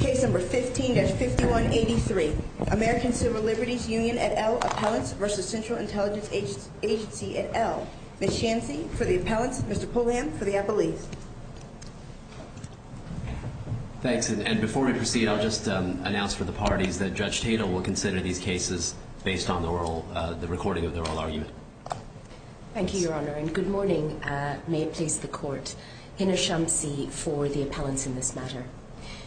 Case No. 15-5183, American Civil Liberties Union et al. Appellants v. Central Intelligence Agency et al. Ms. Chansey for the appellants, Mr. Pulliam for the appellees. Thanks, and before we proceed, I'll just announce for the parties that Judge Tatel will consider these cases based on the recording of the oral argument. Thank you, Your Honor, and good morning. May it please the Court, Hina Shamsi for the appellants in this matter.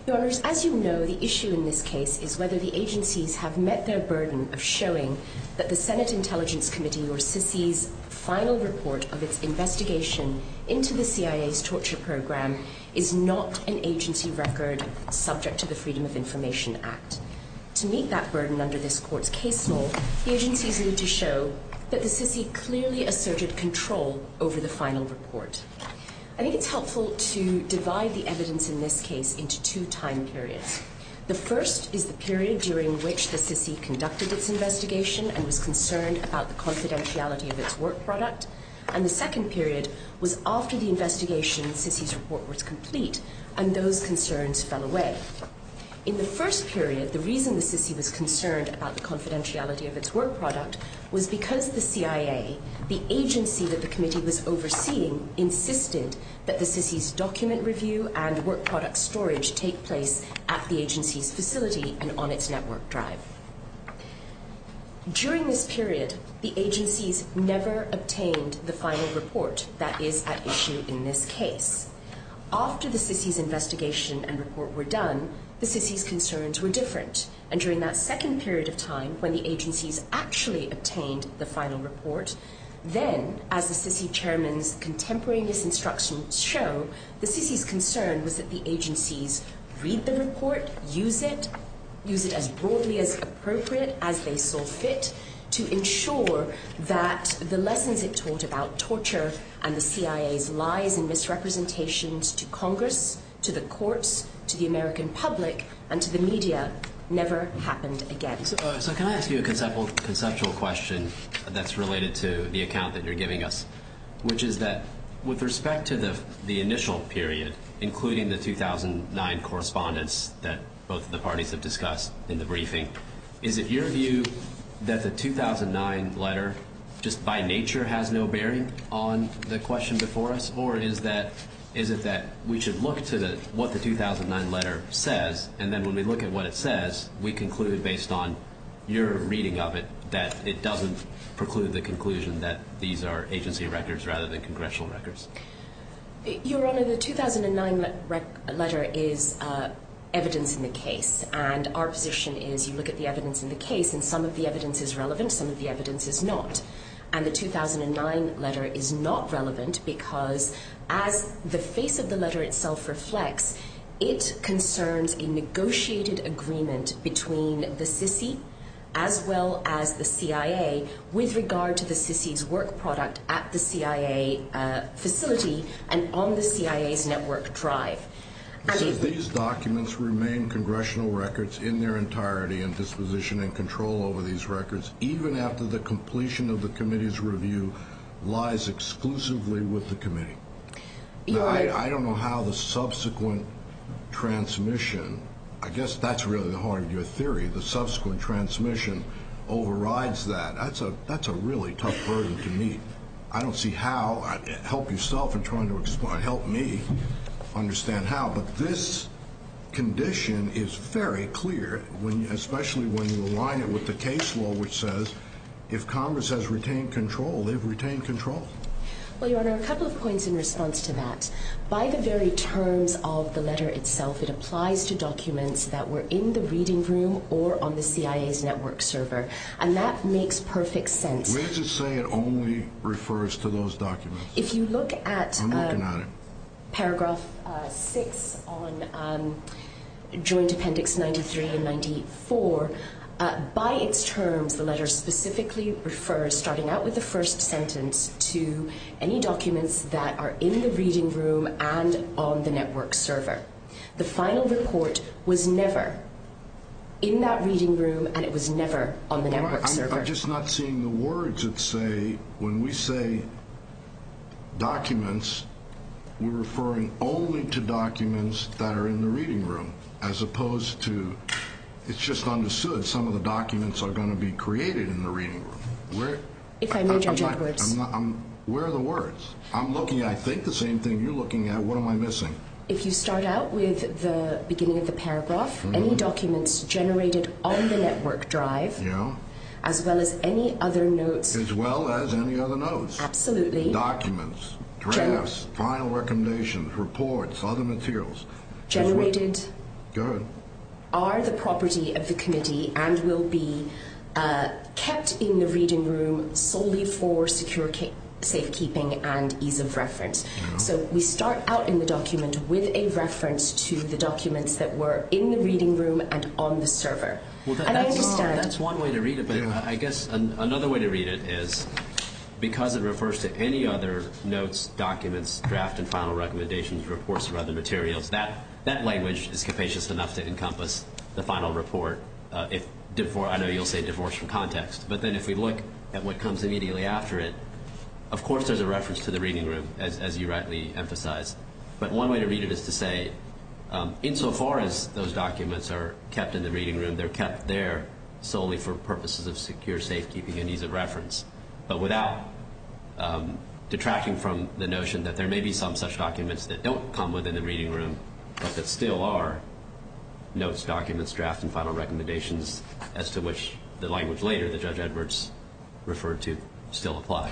Your Honors, as you know, the issue in this case is whether the agencies have met their burden of showing that the Senate Intelligence Committee, or SISI's, final report of its investigation into the CIA's torture program is not an agency record subject to the Freedom of Information Act. To meet that burden under this Court's case law, the agencies need to show that the SISI clearly asserted control over the final report. I think it's helpful to divide the evidence in this case into two time periods. The first is the period during which the SISI conducted its investigation and was concerned about the confidentiality of its work product, and the second period was after the investigation SISI's report was complete and those concerns fell away. In the first period, the reason the SISI was concerned about the confidentiality of its work product was because the CIA, the agency that the committee was overseeing, insisted that the SISI's document review and work product storage take place at the agency's facility and on its network drive. During this period, the agencies never obtained the final report that is at issue in this case. After the SISI's investigation and report were done, the SISI's concerns were different, and during that second period of time when the agencies actually obtained the final report, then, as the SISI chairman's contemporary misinstructions show, the SISI's concern was that the agencies read the report, use it, use it as broadly as appropriate as they saw fit to ensure that the lessons it taught about torture and the CIA's lies and misrepresentations to Congress, to the courts, to the American public, and to the media never happened again. So can I ask you a conceptual question that's related to the account that you're giving us, which is that with respect to the initial period, including the 2009 correspondence that both of the parties have discussed in the briefing, is it your view that the 2009 letter just by nature has no bearing on the question before us, or is it that we should look to what the 2009 letter says, and then when we look at what it says, we conclude based on your reading of it that it doesn't preclude the conclusion that these are agency records rather than congressional records? Your Honor, the 2009 letter is evidence in the case, and our position is you look at the evidence in the case, and some of the evidence is relevant, some of the evidence is not, and the 2009 letter is not relevant because as the face of the letter itself reflects, it concerns a negotiated agreement between the SISI as well as the CIA with regard to the SISI's work product at the CIA facility and on the CIA's network drive. So these documents remain congressional records in their entirety and disposition and control over these records even after the completion of the committee's review lies exclusively with the committee? Your Honor... Now, I don't know how the subsequent transmission, I guess that's really the heart of your theory, the subsequent transmission overrides that. That's a really tough burden to meet. I don't see how, help yourself in trying to explain, help me understand how, but this condition is very clear, especially when you align it with the case law which says if Congress has retained control, they've retained control. Well, Your Honor, a couple of points in response to that. By the very terms of the letter itself, it applies to documents that were in the reading room or on the CIA's network server, and that makes perfect sense. Let's just say it only refers to those documents. If you look at paragraph 6 on Joint Appendix 93 and 94, by its terms, the letter specifically refers, starting out with the first sentence, to any documents that are in the reading room and on the network server. The final report was never in that reading room and it was never on the network server. Your Honor, I'm just not seeing the words that say when we say documents, we're referring only to documents that are in the reading room, as opposed to it's just understood some of the documents are going to be created in the reading room. If I may, Judge Edwards. Where are the words? I'm looking, I think the same thing you're looking at. What am I missing? If you start out with the beginning of the paragraph, any documents generated on the network drive, as well as any other notes. As well as any other notes. Absolutely. Documents, drafts, final recommendations, reports, other materials. Generated. Good. Are the property of the committee and will be kept in the reading room solely for secure safekeeping and ease of reference. So we start out in the document with a reference to the documents that were in the reading room and on the server. That's one way to read it, but I guess another way to read it is because it refers to any other notes, documents, draft, and final recommendations, reports, or other materials. That language is capacious enough to encompass the final report. I know you'll say divorce from context, but then if we look at what comes immediately after it, of course there's a reference to the reading room, as you rightly emphasized. But one way to read it is to say, insofar as those documents are kept in the reading room, they're kept there solely for purposes of secure safekeeping and ease of reference. But without detracting from the notion that there may be some such documents that don't come within the reading room, but that still are notes, documents, drafts, and final recommendations, as to which the language later that Judge Edwards referred to still apply.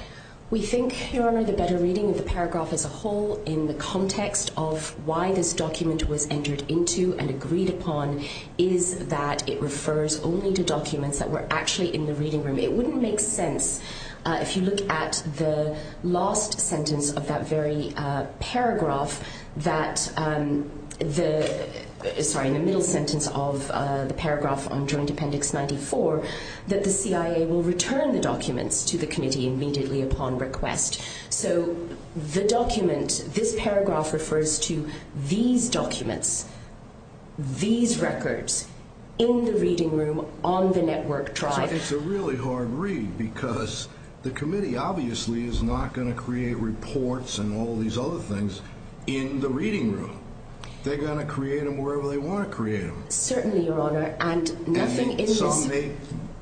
We think, Your Honor, the better reading of the paragraph as a whole, in the context of why this document was entered into and agreed upon, is that it refers only to documents that were actually in the reading room. It wouldn't make sense, if you look at the last sentence of that very paragraph, that the, sorry, the middle sentence of the paragraph on Joint Appendix 94, that the CIA will return the documents to the committee immediately upon request. So the document, this paragraph refers to these documents, these records, in the reading room, on the network drive. It's a really hard read, because the committee obviously is not going to create reports and all these other things in the reading room. They're going to create them wherever they want to create them. Certainly, Your Honor, and nothing in this...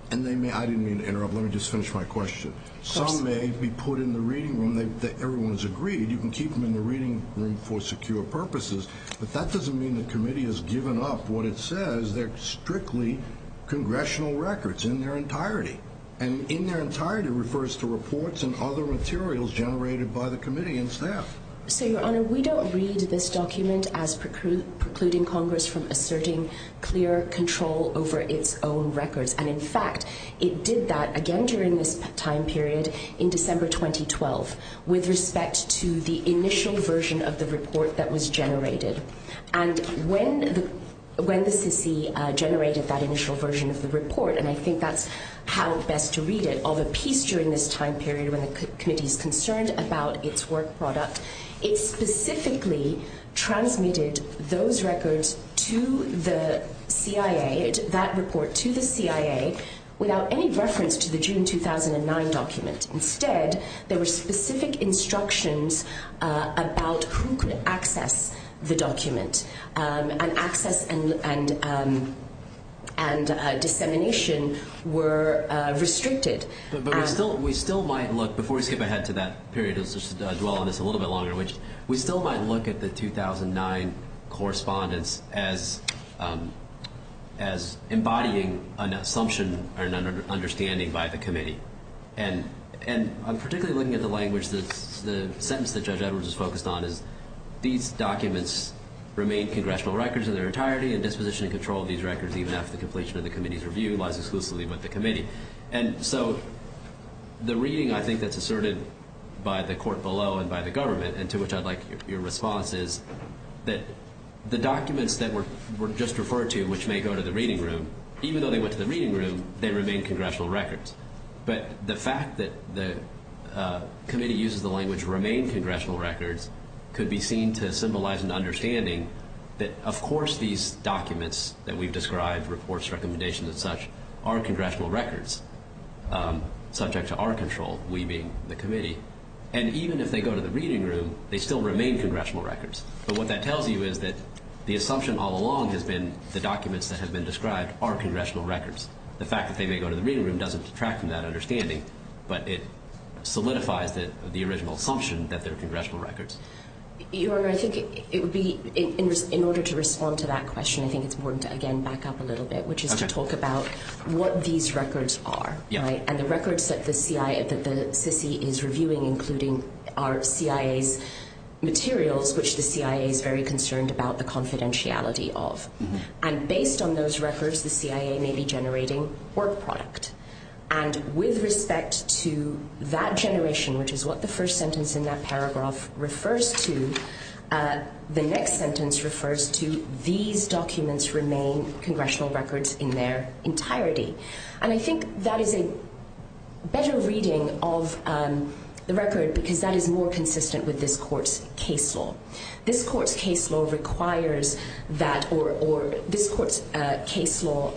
And they may, I didn't mean to interrupt, let me just finish my question. Of course. Some may be put in the reading room, everyone's agreed, you can keep them in the reading room for secure purposes, but that doesn't mean the committee has given up what it says. They're strictly congressional records in their entirety. And in their entirety refers to reports and other materials generated by the committee and staff. So, Your Honor, we don't read this document as precluding Congress from asserting clear control over its own records. And, in fact, it did that again during this time period in December 2012 with respect to the initial version of the report that was generated. And when the CC generated that initial version of the report, and I think that's how best to read it, of a piece during this time period when the committee is concerned about its work product, it specifically transmitted those records to the CIA, that report to the CIA, without any reference to the June 2009 document. Instead, there were specific instructions about who could access the document. And access and dissemination were restricted. But we still might look, before we skip ahead to that period and dwell on this a little bit longer, we still might look at the 2009 correspondence as embodying an assumption or an understanding by the committee. And I'm particularly looking at the language, the sentence that Judge Edwards is focused on is, these documents remain congressional records in their entirety, and disposition and control of these records, even after the completion of the committee's review, lies exclusively with the committee. And so the reading, I think, that's asserted by the court below and by the government, and to which I'd like your response, is that the documents that were just referred to, which may go to the reading room, even though they went to the reading room, they remain congressional records. But the fact that the committee uses the language, remain congressional records, could be seen to symbolize an understanding that, of course, these documents that we've described, reports, recommendations and such, are congressional records, subject to our control, we being the committee. And even if they go to the reading room, they still remain congressional records. But what that tells you is that the assumption all along has been the documents that have been described are congressional records. The fact that they may go to the reading room doesn't detract from that understanding, but it solidifies the original assumption that they're congressional records. Your Honor, I think it would be, in order to respond to that question, I think it's important to, again, back up a little bit, which is to talk about what these records are. And the records that the CICI is reviewing, including our CIA's materials, which the CIA is very concerned about the confidentiality of. And based on those records, the CIA may be generating work product. And with respect to that generation, which is what the first sentence in that paragraph refers to, the next sentence refers to these documents remain congressional records in their entirety. And I think that is a better reading of the record because that is more consistent with this court's case law. This court's case law requires that, or this court's case law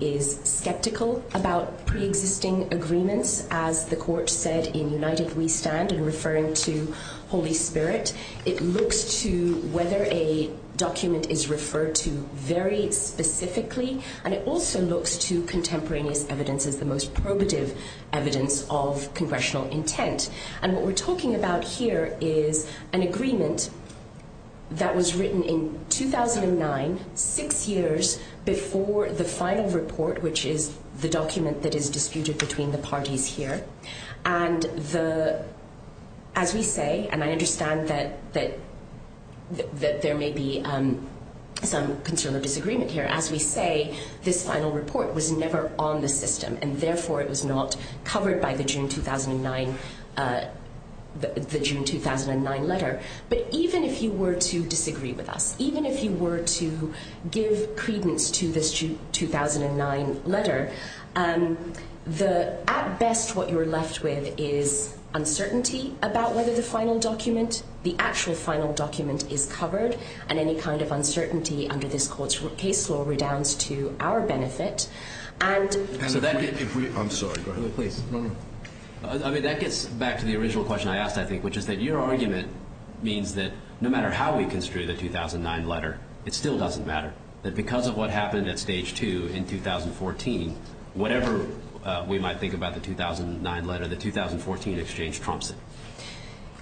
is skeptical about preexisting agreements, as the court said in United We Stand in referring to Holy Spirit. It looks to whether a document is referred to very specifically, and it also looks to contemporaneous evidence as the most probative evidence of congressional intent. And what we're talking about here is an agreement that was written in 2009, six years before the final report, which is the document that is disputed between the parties here. And as we say, and I understand that there may be some concern or disagreement here, as we say, this final report was never on the system, and therefore it was not covered by the June 2009 letter. But even if you were to disagree with us, even if you were to give credence to this 2009 letter, at best what you're left with is uncertainty about whether the actual final document is covered, and any kind of uncertainty under this court's case law redounds to our benefit. I'm sorry, go ahead. That gets back to the original question I asked, I think, which is that your argument means that no matter how we construe the 2009 letter, it still doesn't matter, that because of what happened at stage two in 2014, whatever we might think about the 2009 letter, the 2014 exchange trumps it.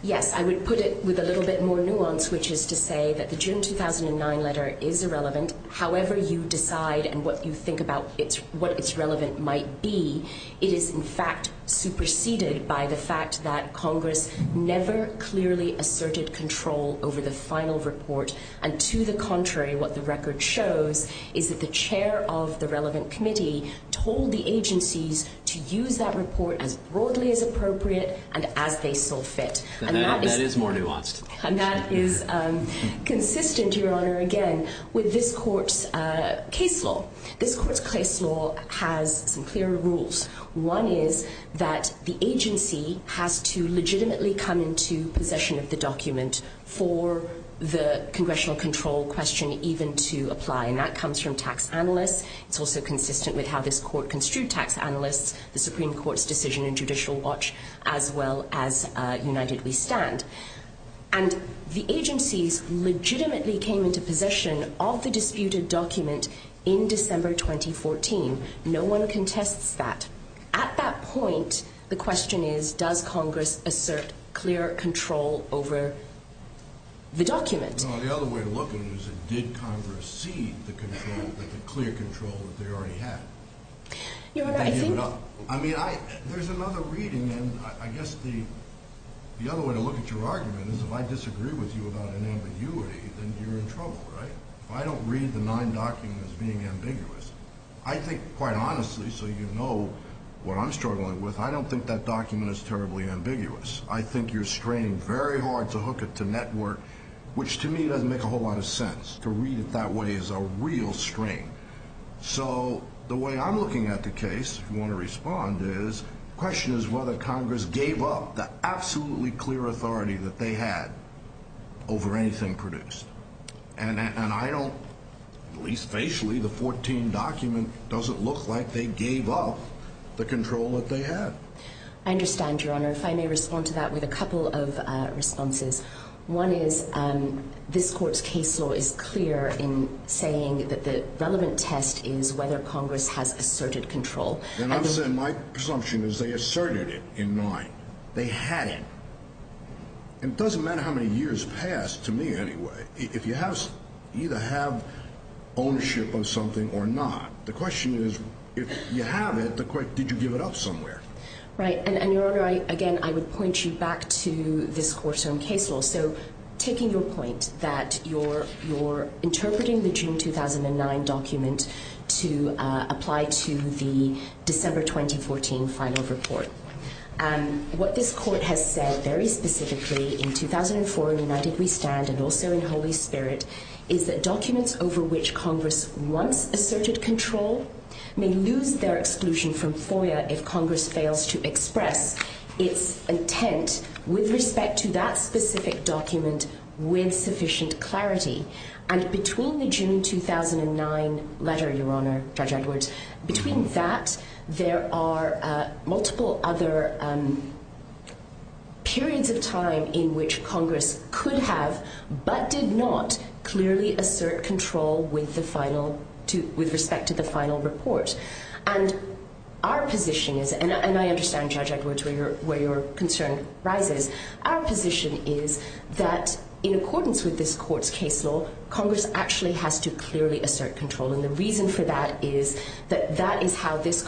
Yes, I would put it with a little bit more nuance, which is to say that the June 2009 letter is irrelevant, however you decide and what you think about what it's relevant might be. It is, in fact, superseded by the fact that Congress never clearly asserted control over the final report, and to the contrary, what the record shows is that the chair of the relevant committee told the agencies to use that report as broadly as appropriate and as they saw fit. That is more nuanced. And that is consistent, Your Honor, again, with this court's case law. This court's case law has some clear rules. One is that the agency has to legitimately come into possession of the document for the congressional control question even to apply, and that comes from tax analysts. It's also consistent with how this court construed tax analysts, the Supreme Court's decision in judicial watch, as well as United We Stand. And the agencies legitimately came into possession of the disputed document in December 2014. No one contests that. At that point, the question is, does Congress assert clear control over the document? No, the other way to look at it is, did Congress cede the control, the clear control that they already had? Your Honor, I think— I think your argument is if I disagree with you about an ambiguity, then you're in trouble, right? If I don't read the nine documents as being ambiguous, I think, quite honestly, so you know what I'm struggling with, I don't think that document is terribly ambiguous. I think you're straining very hard to hook it to network, which to me doesn't make a whole lot of sense. To read it that way is a real strain. So the way I'm looking at the case, if you want to respond, the question is whether Congress gave up the absolutely clear authority that they had over anything produced. And I don't—at least facially, the 2014 document doesn't look like they gave up the control that they had. I understand, Your Honor. If I may respond to that with a couple of responses. One is, this Court's case law is clear in saying that the relevant test is whether Congress has asserted control. And I'm saying my presumption is they asserted it in nine. They hadn't. And it doesn't matter how many years pass, to me anyway, if you either have ownership of something or not. The question is, if you have it, did you give it up somewhere? Right. And, Your Honor, again, I would point you back to this Court's own case law. So taking your point that you're interpreting the June 2009 document to apply to the December 2014 final report, what this Court has said very specifically in 2004 in United We Stand and also in Holy Spirit is that documents over which Congress once asserted control may lose their exclusion from FOIA if Congress fails to express its intent with respect to that specific document with sufficient clarity. And between the June 2009 letter, Your Honor, Judge Edwards, between that, there are multiple other periods of time in which Congress could have but did not clearly assert control with respect to the final report. And our position is, and I understand, Judge Edwards, where your concern rises, our position is that in accordance with this Court's case law, Congress actually has to clearly assert control. And the reason for that is that that is how this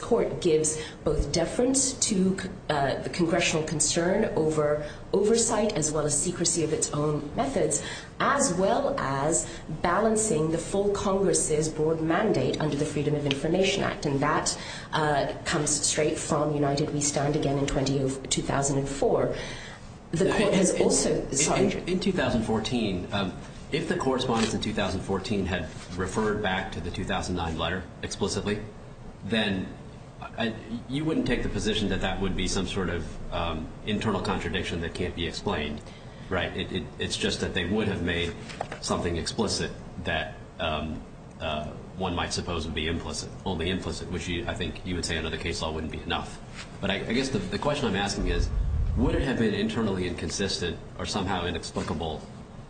Court gives both deference to the congressional concern over oversight as well as secrecy of its own methods as well as balancing the full Congress's broad mandate under the Freedom of Information Act, and that comes straight from United We Stand again in 2004. The Court has also – sorry, Judge. In 2014, if the correspondence in 2014 had referred back to the 2009 letter explicitly, then you wouldn't take the position that that would be some sort of internal contradiction that can't be explained, right? It's just that they would have made something explicit that one might suppose would be implicit, only implicit, which I think you would say under the case law wouldn't be enough. But I guess the question I'm asking is, would it have been internally inconsistent or somehow inexplicable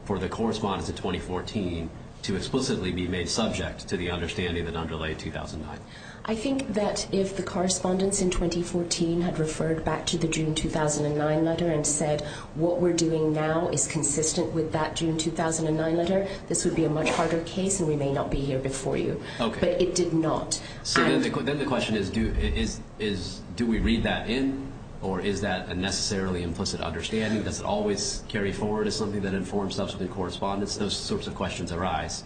for the correspondence in 2014 to explicitly be made subject to the understanding that underlay 2009? I think that if the correspondence in 2014 had referred back to the June 2009 letter and said what we're doing now is consistent with that June 2009 letter, this would be a much harder case and we may not be here before you. Okay. But it did not. So then the question is, do we read that in, or is that a necessarily implicit understanding? Does it always carry forward as something that informs subsequent correspondence? Those sorts of questions arise.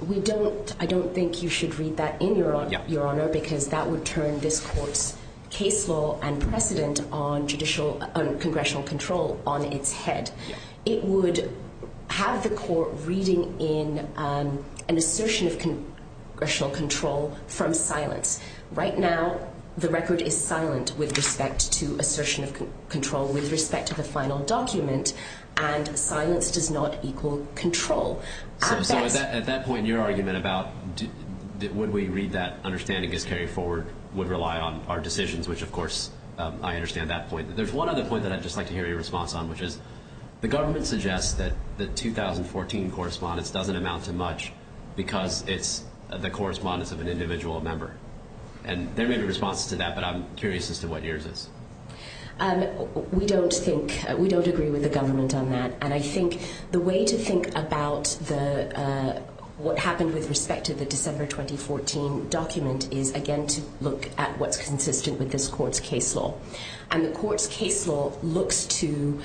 I don't think you should read that in, Your Honor, because that would turn this court's case law and precedent on congressional control on its head. It would have the court reading in an assertion of congressional control from silence. Right now the record is silent with respect to assertion of control with respect to the final document, and silence does not equal control. So at that point, your argument about would we read that understanding as carried forward would rely on our decisions, which, of course, I understand that point. There's one other point that I'd just like to hear your response on, which is the government suggests that the 2014 correspondence doesn't amount to much because it's the correspondence of an individual member. And there may be responses to that, but I'm curious as to what yours is. We don't think we don't agree with the government on that, and I think the way to think about what happened with respect to the December 2014 document is, again, to look at what's consistent with this court's case law. And the court's case law looks to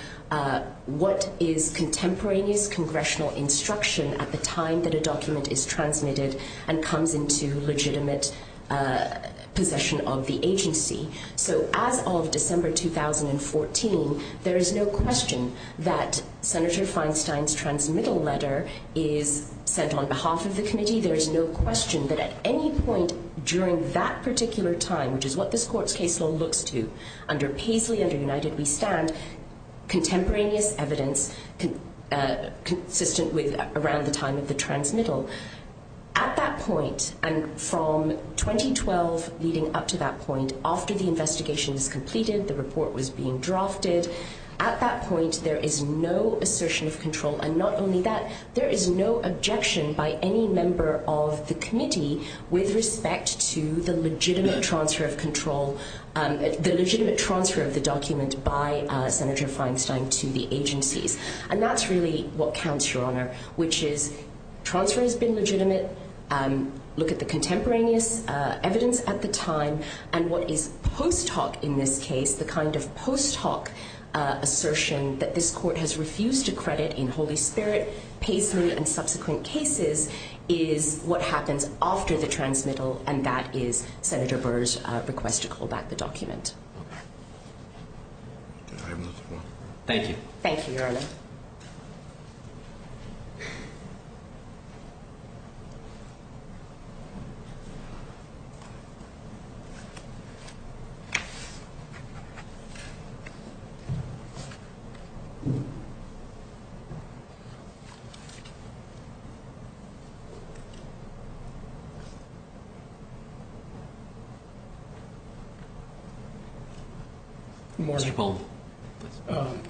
what is contemporaneous congressional instruction at the time that a document is transmitted and comes into legitimate possession of the agency. So as of December 2014, there is no question that Senator Feinstein's transmittal letter is sent on behalf of the committee. There is no question that at any point during that particular time, which is what this court's case law looks to under Paisley, under United We Stand, contemporaneous evidence consistent with around the time of the transmittal. At that point, and from 2012 leading up to that point, after the investigation is completed, the report was being drafted, at that point there is no assertion of control. And not only that, there is no objection by any member of the committee with respect to the legitimate transfer of control, the legitimate transfer of the document by Senator Feinstein to the agencies. And that's really what counts, Your Honor, which is transfer has been legitimate, look at the contemporaneous evidence at the time, and what is post hoc in this case, the kind of post hoc assertion that this court has refused to credit in Holy Spirit, Paisley, and subsequent cases is what happens after the transmittal, and that is Senator Burr's request to call back the document. Thank you. Thank you, Your Honor. Good morning.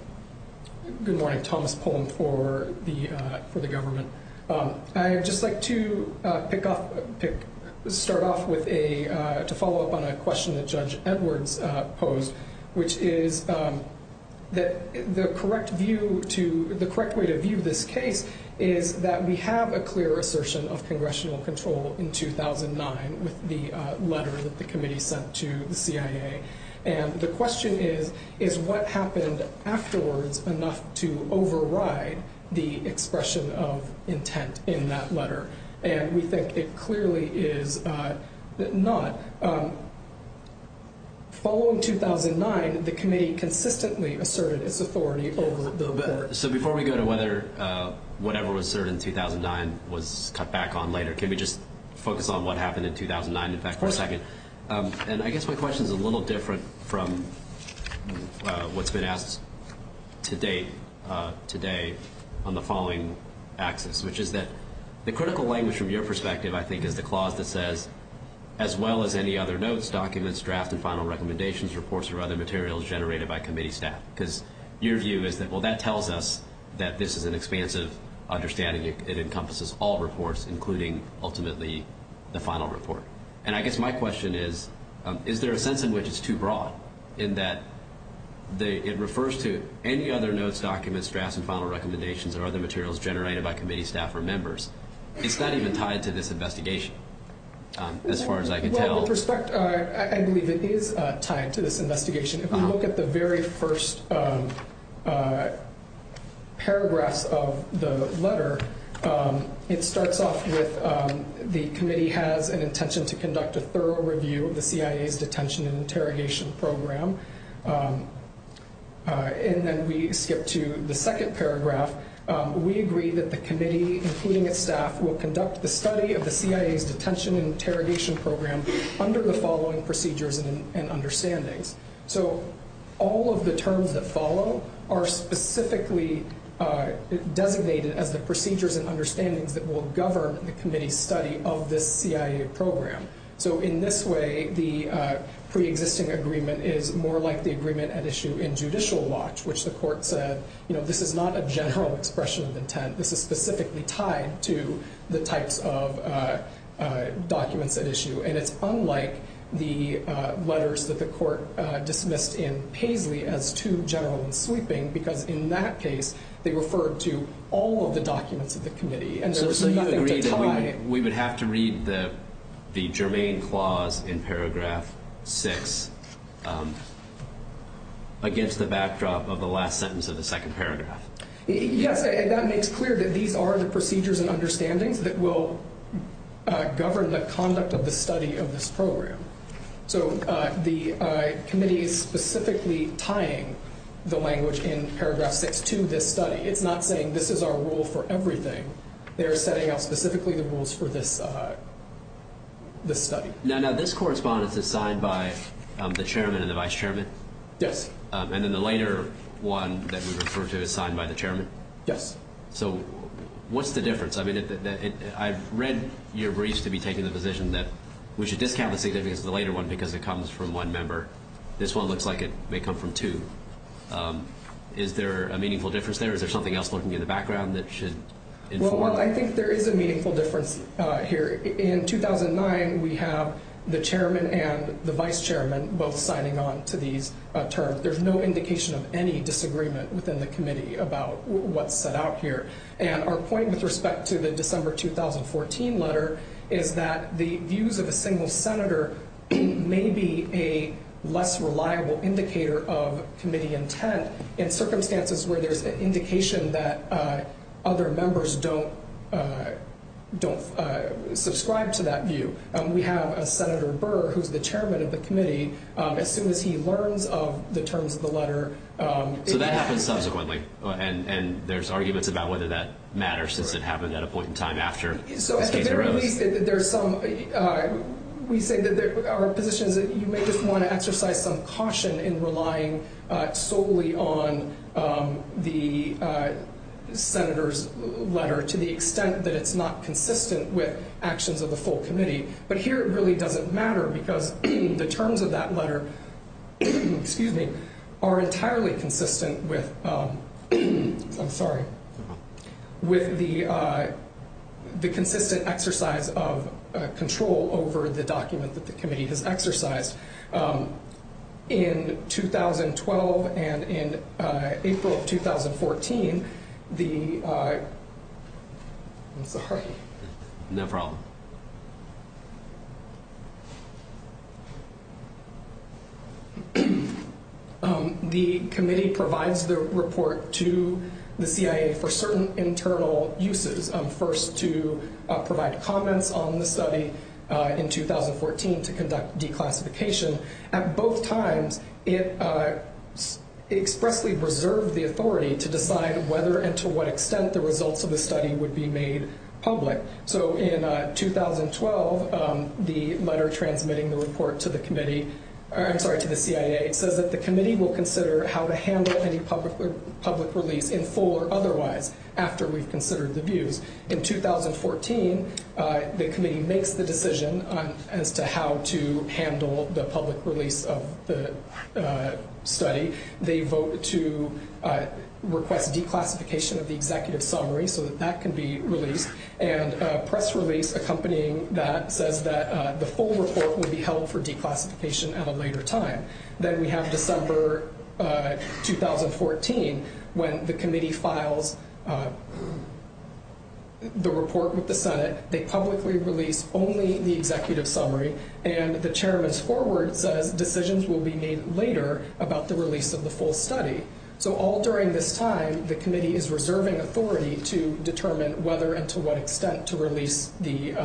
Good morning. Thomas Pullum for the government. I would just like to pick up, start off with a, to follow up on a question that Judge Edwards posed, which is that the correct view to, the correct way to view this case is that we have a clear assertion of congressional control in 2009 with the letter that the committee sent to the CIA. And the question is, is what happened afterwards enough to override the expression of intent in that letter? And we think it clearly is not. Following 2009, the committee consistently asserted its authority over the report. So before we go to whether whatever was asserted in 2009 was cut back on later, can we just focus on what happened in 2009, in fact, for a second? And I guess my question is a little different from what's been asked to date today on the following axis, which is that the critical language from your perspective, I think, is the clause that says, as well as any other notes, documents, draft, and final recommendations, reports, or other materials generated by committee staff. Because your view is that, well, that tells us that this is an expansive understanding. It encompasses all reports, including ultimately the final report. And I guess my question is, is there a sense in which it's too broad, in that it refers to any other notes, documents, drafts, and final recommendations or other materials generated by committee staff or members? It's not even tied to this investigation, as far as I can tell. Well, with respect, I believe it is tied to this investigation. If we look at the very first paragraphs of the letter, it starts off with the committee has an intention to conduct a thorough review of the CIA's detention and interrogation program. And then we skip to the second paragraph. We agree that the committee, including its staff, will conduct the study of the CIA's detention and interrogation program under the following procedures and understandings. So all of the terms that follow are specifically designated as the procedures and understandings that will govern the committee's study of this CIA program. So in this way, the preexisting agreement is more like the agreement at issue in judicial watch, which the court said, you know, this is not a general expression of intent. This is specifically tied to the types of documents at issue. And it's unlike the letters that the court dismissed in Paisley as too general and sweeping, because in that case they referred to all of the documents of the committee. So you agree that we would have to read the germane clause in paragraph 6 against the backdrop of the last sentence of the second paragraph? Yes, and that makes clear that these are the procedures and understandings that will govern the conduct of the study of this program. So the committee is specifically tying the language in paragraph 6 to this study. It's not saying this is our rule for everything. They are setting out specifically the rules for this study. Now, this correspondence is signed by the chairman and the vice chairman? Yes. And then the later one that we refer to is signed by the chairman? Yes. So what's the difference? I mean, I've read your briefs to be taking the position that we should discount the significance of the later one because it comes from one member. This one looks like it may come from two. Is there a meaningful difference there? Is there something else lurking in the background that should inform? Well, I think there is a meaningful difference here. In 2009, we have the chairman and the vice chairman both signing on to these terms. There's no indication of any disagreement within the committee about what's set out here. And our point with respect to the December 2014 letter is that the views of a single senator may be a less reliable indicator of committee intent in circumstances where there's an indication that other members don't subscribe to that view. We have Senator Burr, who's the chairman of the committee, as soon as he learns of the terms of the letter. So that happens subsequently, and there's arguments about whether that matters since it happened at a point in time after. So at the very least, we say that there are positions that you may just want to exercise some caution in relying solely on the senator's letter to the extent that it's not consistent with actions of the full committee. But here, it really doesn't matter because the terms of that letter are entirely consistent with the consistent exercise of control over the document that the committee has exercised. In 2012 and in April of 2014, the committee provides the report to the CIA for certain internal uses. First, to provide comments on the study in 2014 to conduct declassification. At both times, it expressly reserved the authority to decide whether and to what extent the results of the study would be made public. So in 2012, the letter transmitting the report to the CIA says that the committee will consider how to handle any public release, in full or otherwise, after we've considered the views. In 2014, the committee makes the decision as to how to handle the public release of the study. They vote to request declassification of the executive summary so that that can be released. And a press release accompanying that says that the full report will be held for declassification at a later time. Then we have December 2014 when the committee files the report with the Senate. They publicly release only the executive summary, and the chairman's foreword says decisions will be made later about the release of the full study. So all during this time, the committee is reserving authority to determine whether and to what extent to release the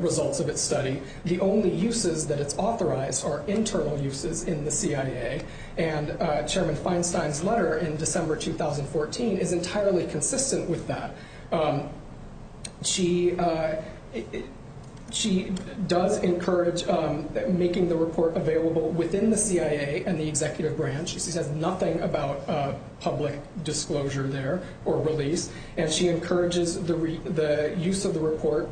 results of its study. The only uses that it's authorized are internal uses in the CIA, and Chairman Feinstein's letter in December 2014 is entirely consistent with that. She does encourage making the report available within the CIA and the executive branch. She says nothing about public disclosure there or release, and she encourages the use of the report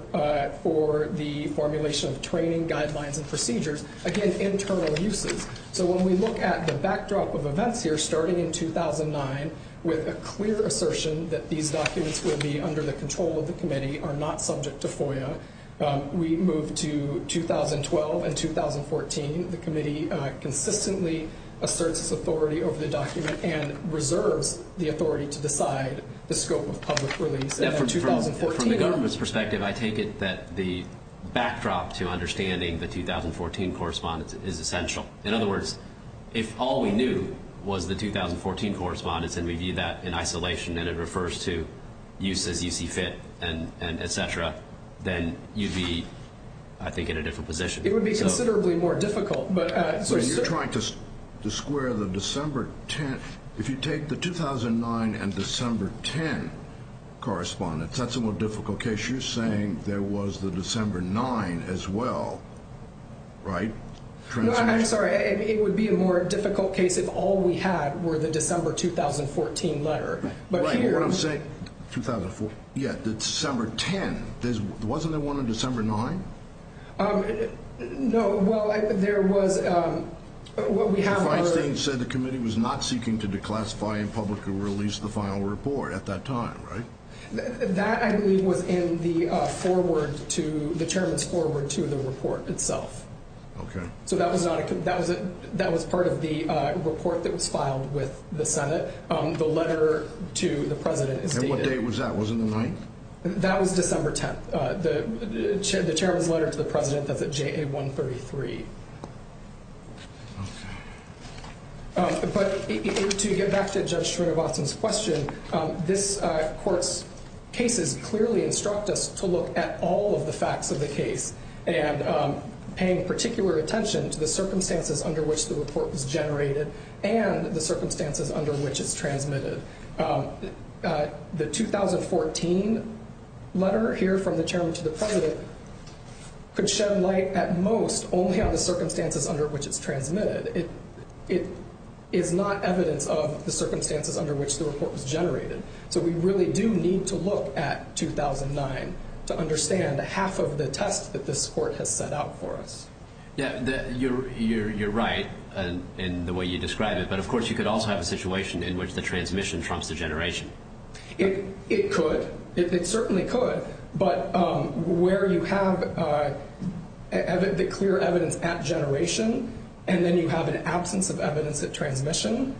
for the formulation of training guidelines and procedures. Again, internal uses. So when we look at the backdrop of events here, starting in 2009 with a clear assertion that these documents will be under the control of the committee, are not subject to FOIA. We move to 2012 and 2014. The committee consistently asserts its authority over the document and reserves the authority to decide the scope of public release. From the government's perspective, I take it that the backdrop to understanding the 2014 correspondence is essential. In other words, if all we knew was the 2014 correspondence and we view that in isolation and it refers to use as you see fit and et cetera, then you'd be, I think, in a different position. It would be considerably more difficult. You're trying to square the December 10th. If you take the 2009 and December 10 correspondence, that's a more difficult case. You're saying there was the December 9 as well, right? I'm sorry. It would be a more difficult case if all we had were the December 2014 letter. Right. What I'm saying, 2004. Yeah, December 10. Wasn't there one in December 9? No. Well, there was. What we have are. Mr. Feinstein said the committee was not seeking to declassify in public or release the final report at that time, right? That, I believe, was in the forward to the chairman's forward to the report itself. Okay. So that was part of the report that was filed with the Senate. The letter to the president is dated. And what date was that? Was it the 9th? That was December 10th. The chairman's letter to the president, that's at JA 133. Okay. But to get back to Judge Schroeder-Watson's question, this court's cases clearly instruct us to look at all of the facts of the case and paying particular attention to the circumstances under which the report was generated and the circumstances under which it's transmitted. The 2014 letter here from the chairman to the president could shed light at most only on the circumstances under which it's transmitted. It is not evidence of the circumstances under which the report was generated. So we really do need to look at 2009 to understand half of the test that this court has set out for us. Yeah, you're right in the way you describe it. But, of course, you could also have a situation in which the transmission trumps the generation. It could. It certainly could. But where you have the clear evidence at generation and then you have an absence of evidence at transmission.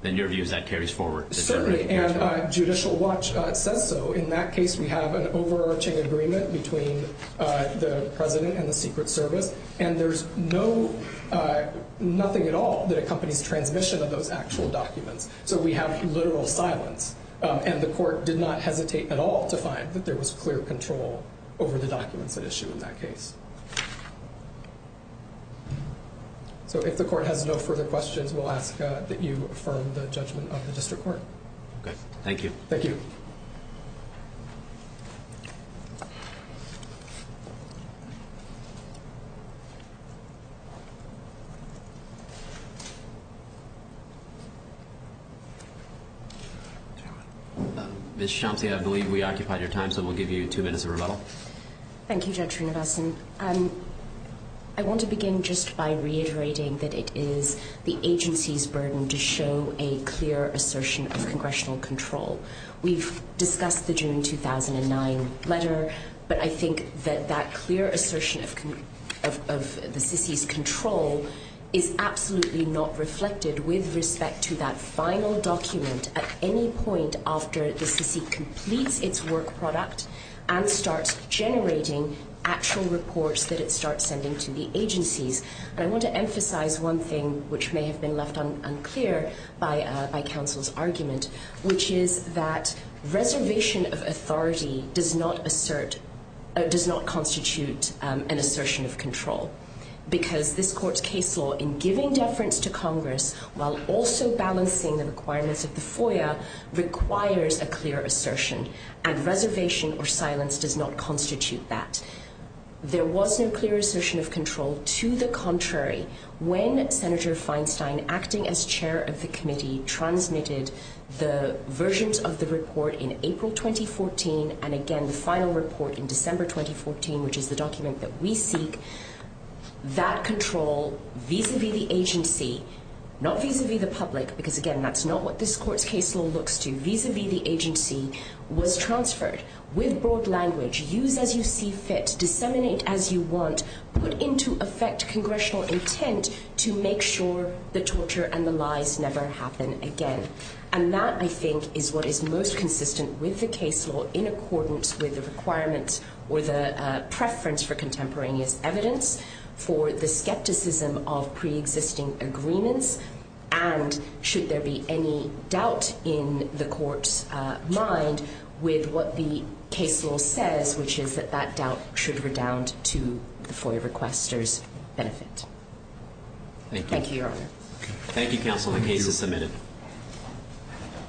Then your view is that carries forward. Certainly. And Judicial Watch says so. In that case, we have an overarching agreement between the president and the Secret Service. And there's nothing at all that accompanies transmission of those actual documents. So we have literal silence. And the court did not hesitate at all to find that there was clear control over the documents at issue in that case. So if the court has no further questions, we'll ask that you affirm the judgment of the district court. Thank you. Thank you. Ms. Shamsi, I believe we occupied your time, so we'll give you two minutes of rebuttal. Thank you, Judge Srinivasan. I want to begin just by reiterating that it is the agency's burden to show a clear assertion of congressional control. We've discussed the June 2009 letter. But I think that that clear assertion of the SISI's control is absolutely not reflected with respect to that final document at any point after the SISI completes its work product and starts generating actual reports that it starts sending to the agencies. And I want to emphasize one thing which may have been left unclear by counsel's argument, which is that reservation of authority does not constitute an assertion of control. Because this court's case law in giving deference to Congress while also balancing the requirements of the FOIA requires a clear assertion. And reservation or silence does not constitute that. There was no clear assertion of control. To the contrary, when Senator Feinstein, acting as chair of the committee, transmitted the versions of the report in April 2014 and again the final report in December 2014, which is the document that we seek, that control vis-a-vis the agency, not vis-a-vis the public, because again that's not what this court's case law looks to, vis-a-vis the agency, was transferred with broad language. Use as you see fit. Disseminate as you want. Put into effect congressional intent to make sure the torture and the lies never happen again. And that, I think, is what is most consistent with the case law in accordance with the requirements or the preference for contemporaneous evidence for the skepticism of pre-existing agreements. And should there be any doubt in the court's mind with what the case law says, which is that that doubt should redound to the FOIA requester's benefit. Thank you, counsel. The case is submitted.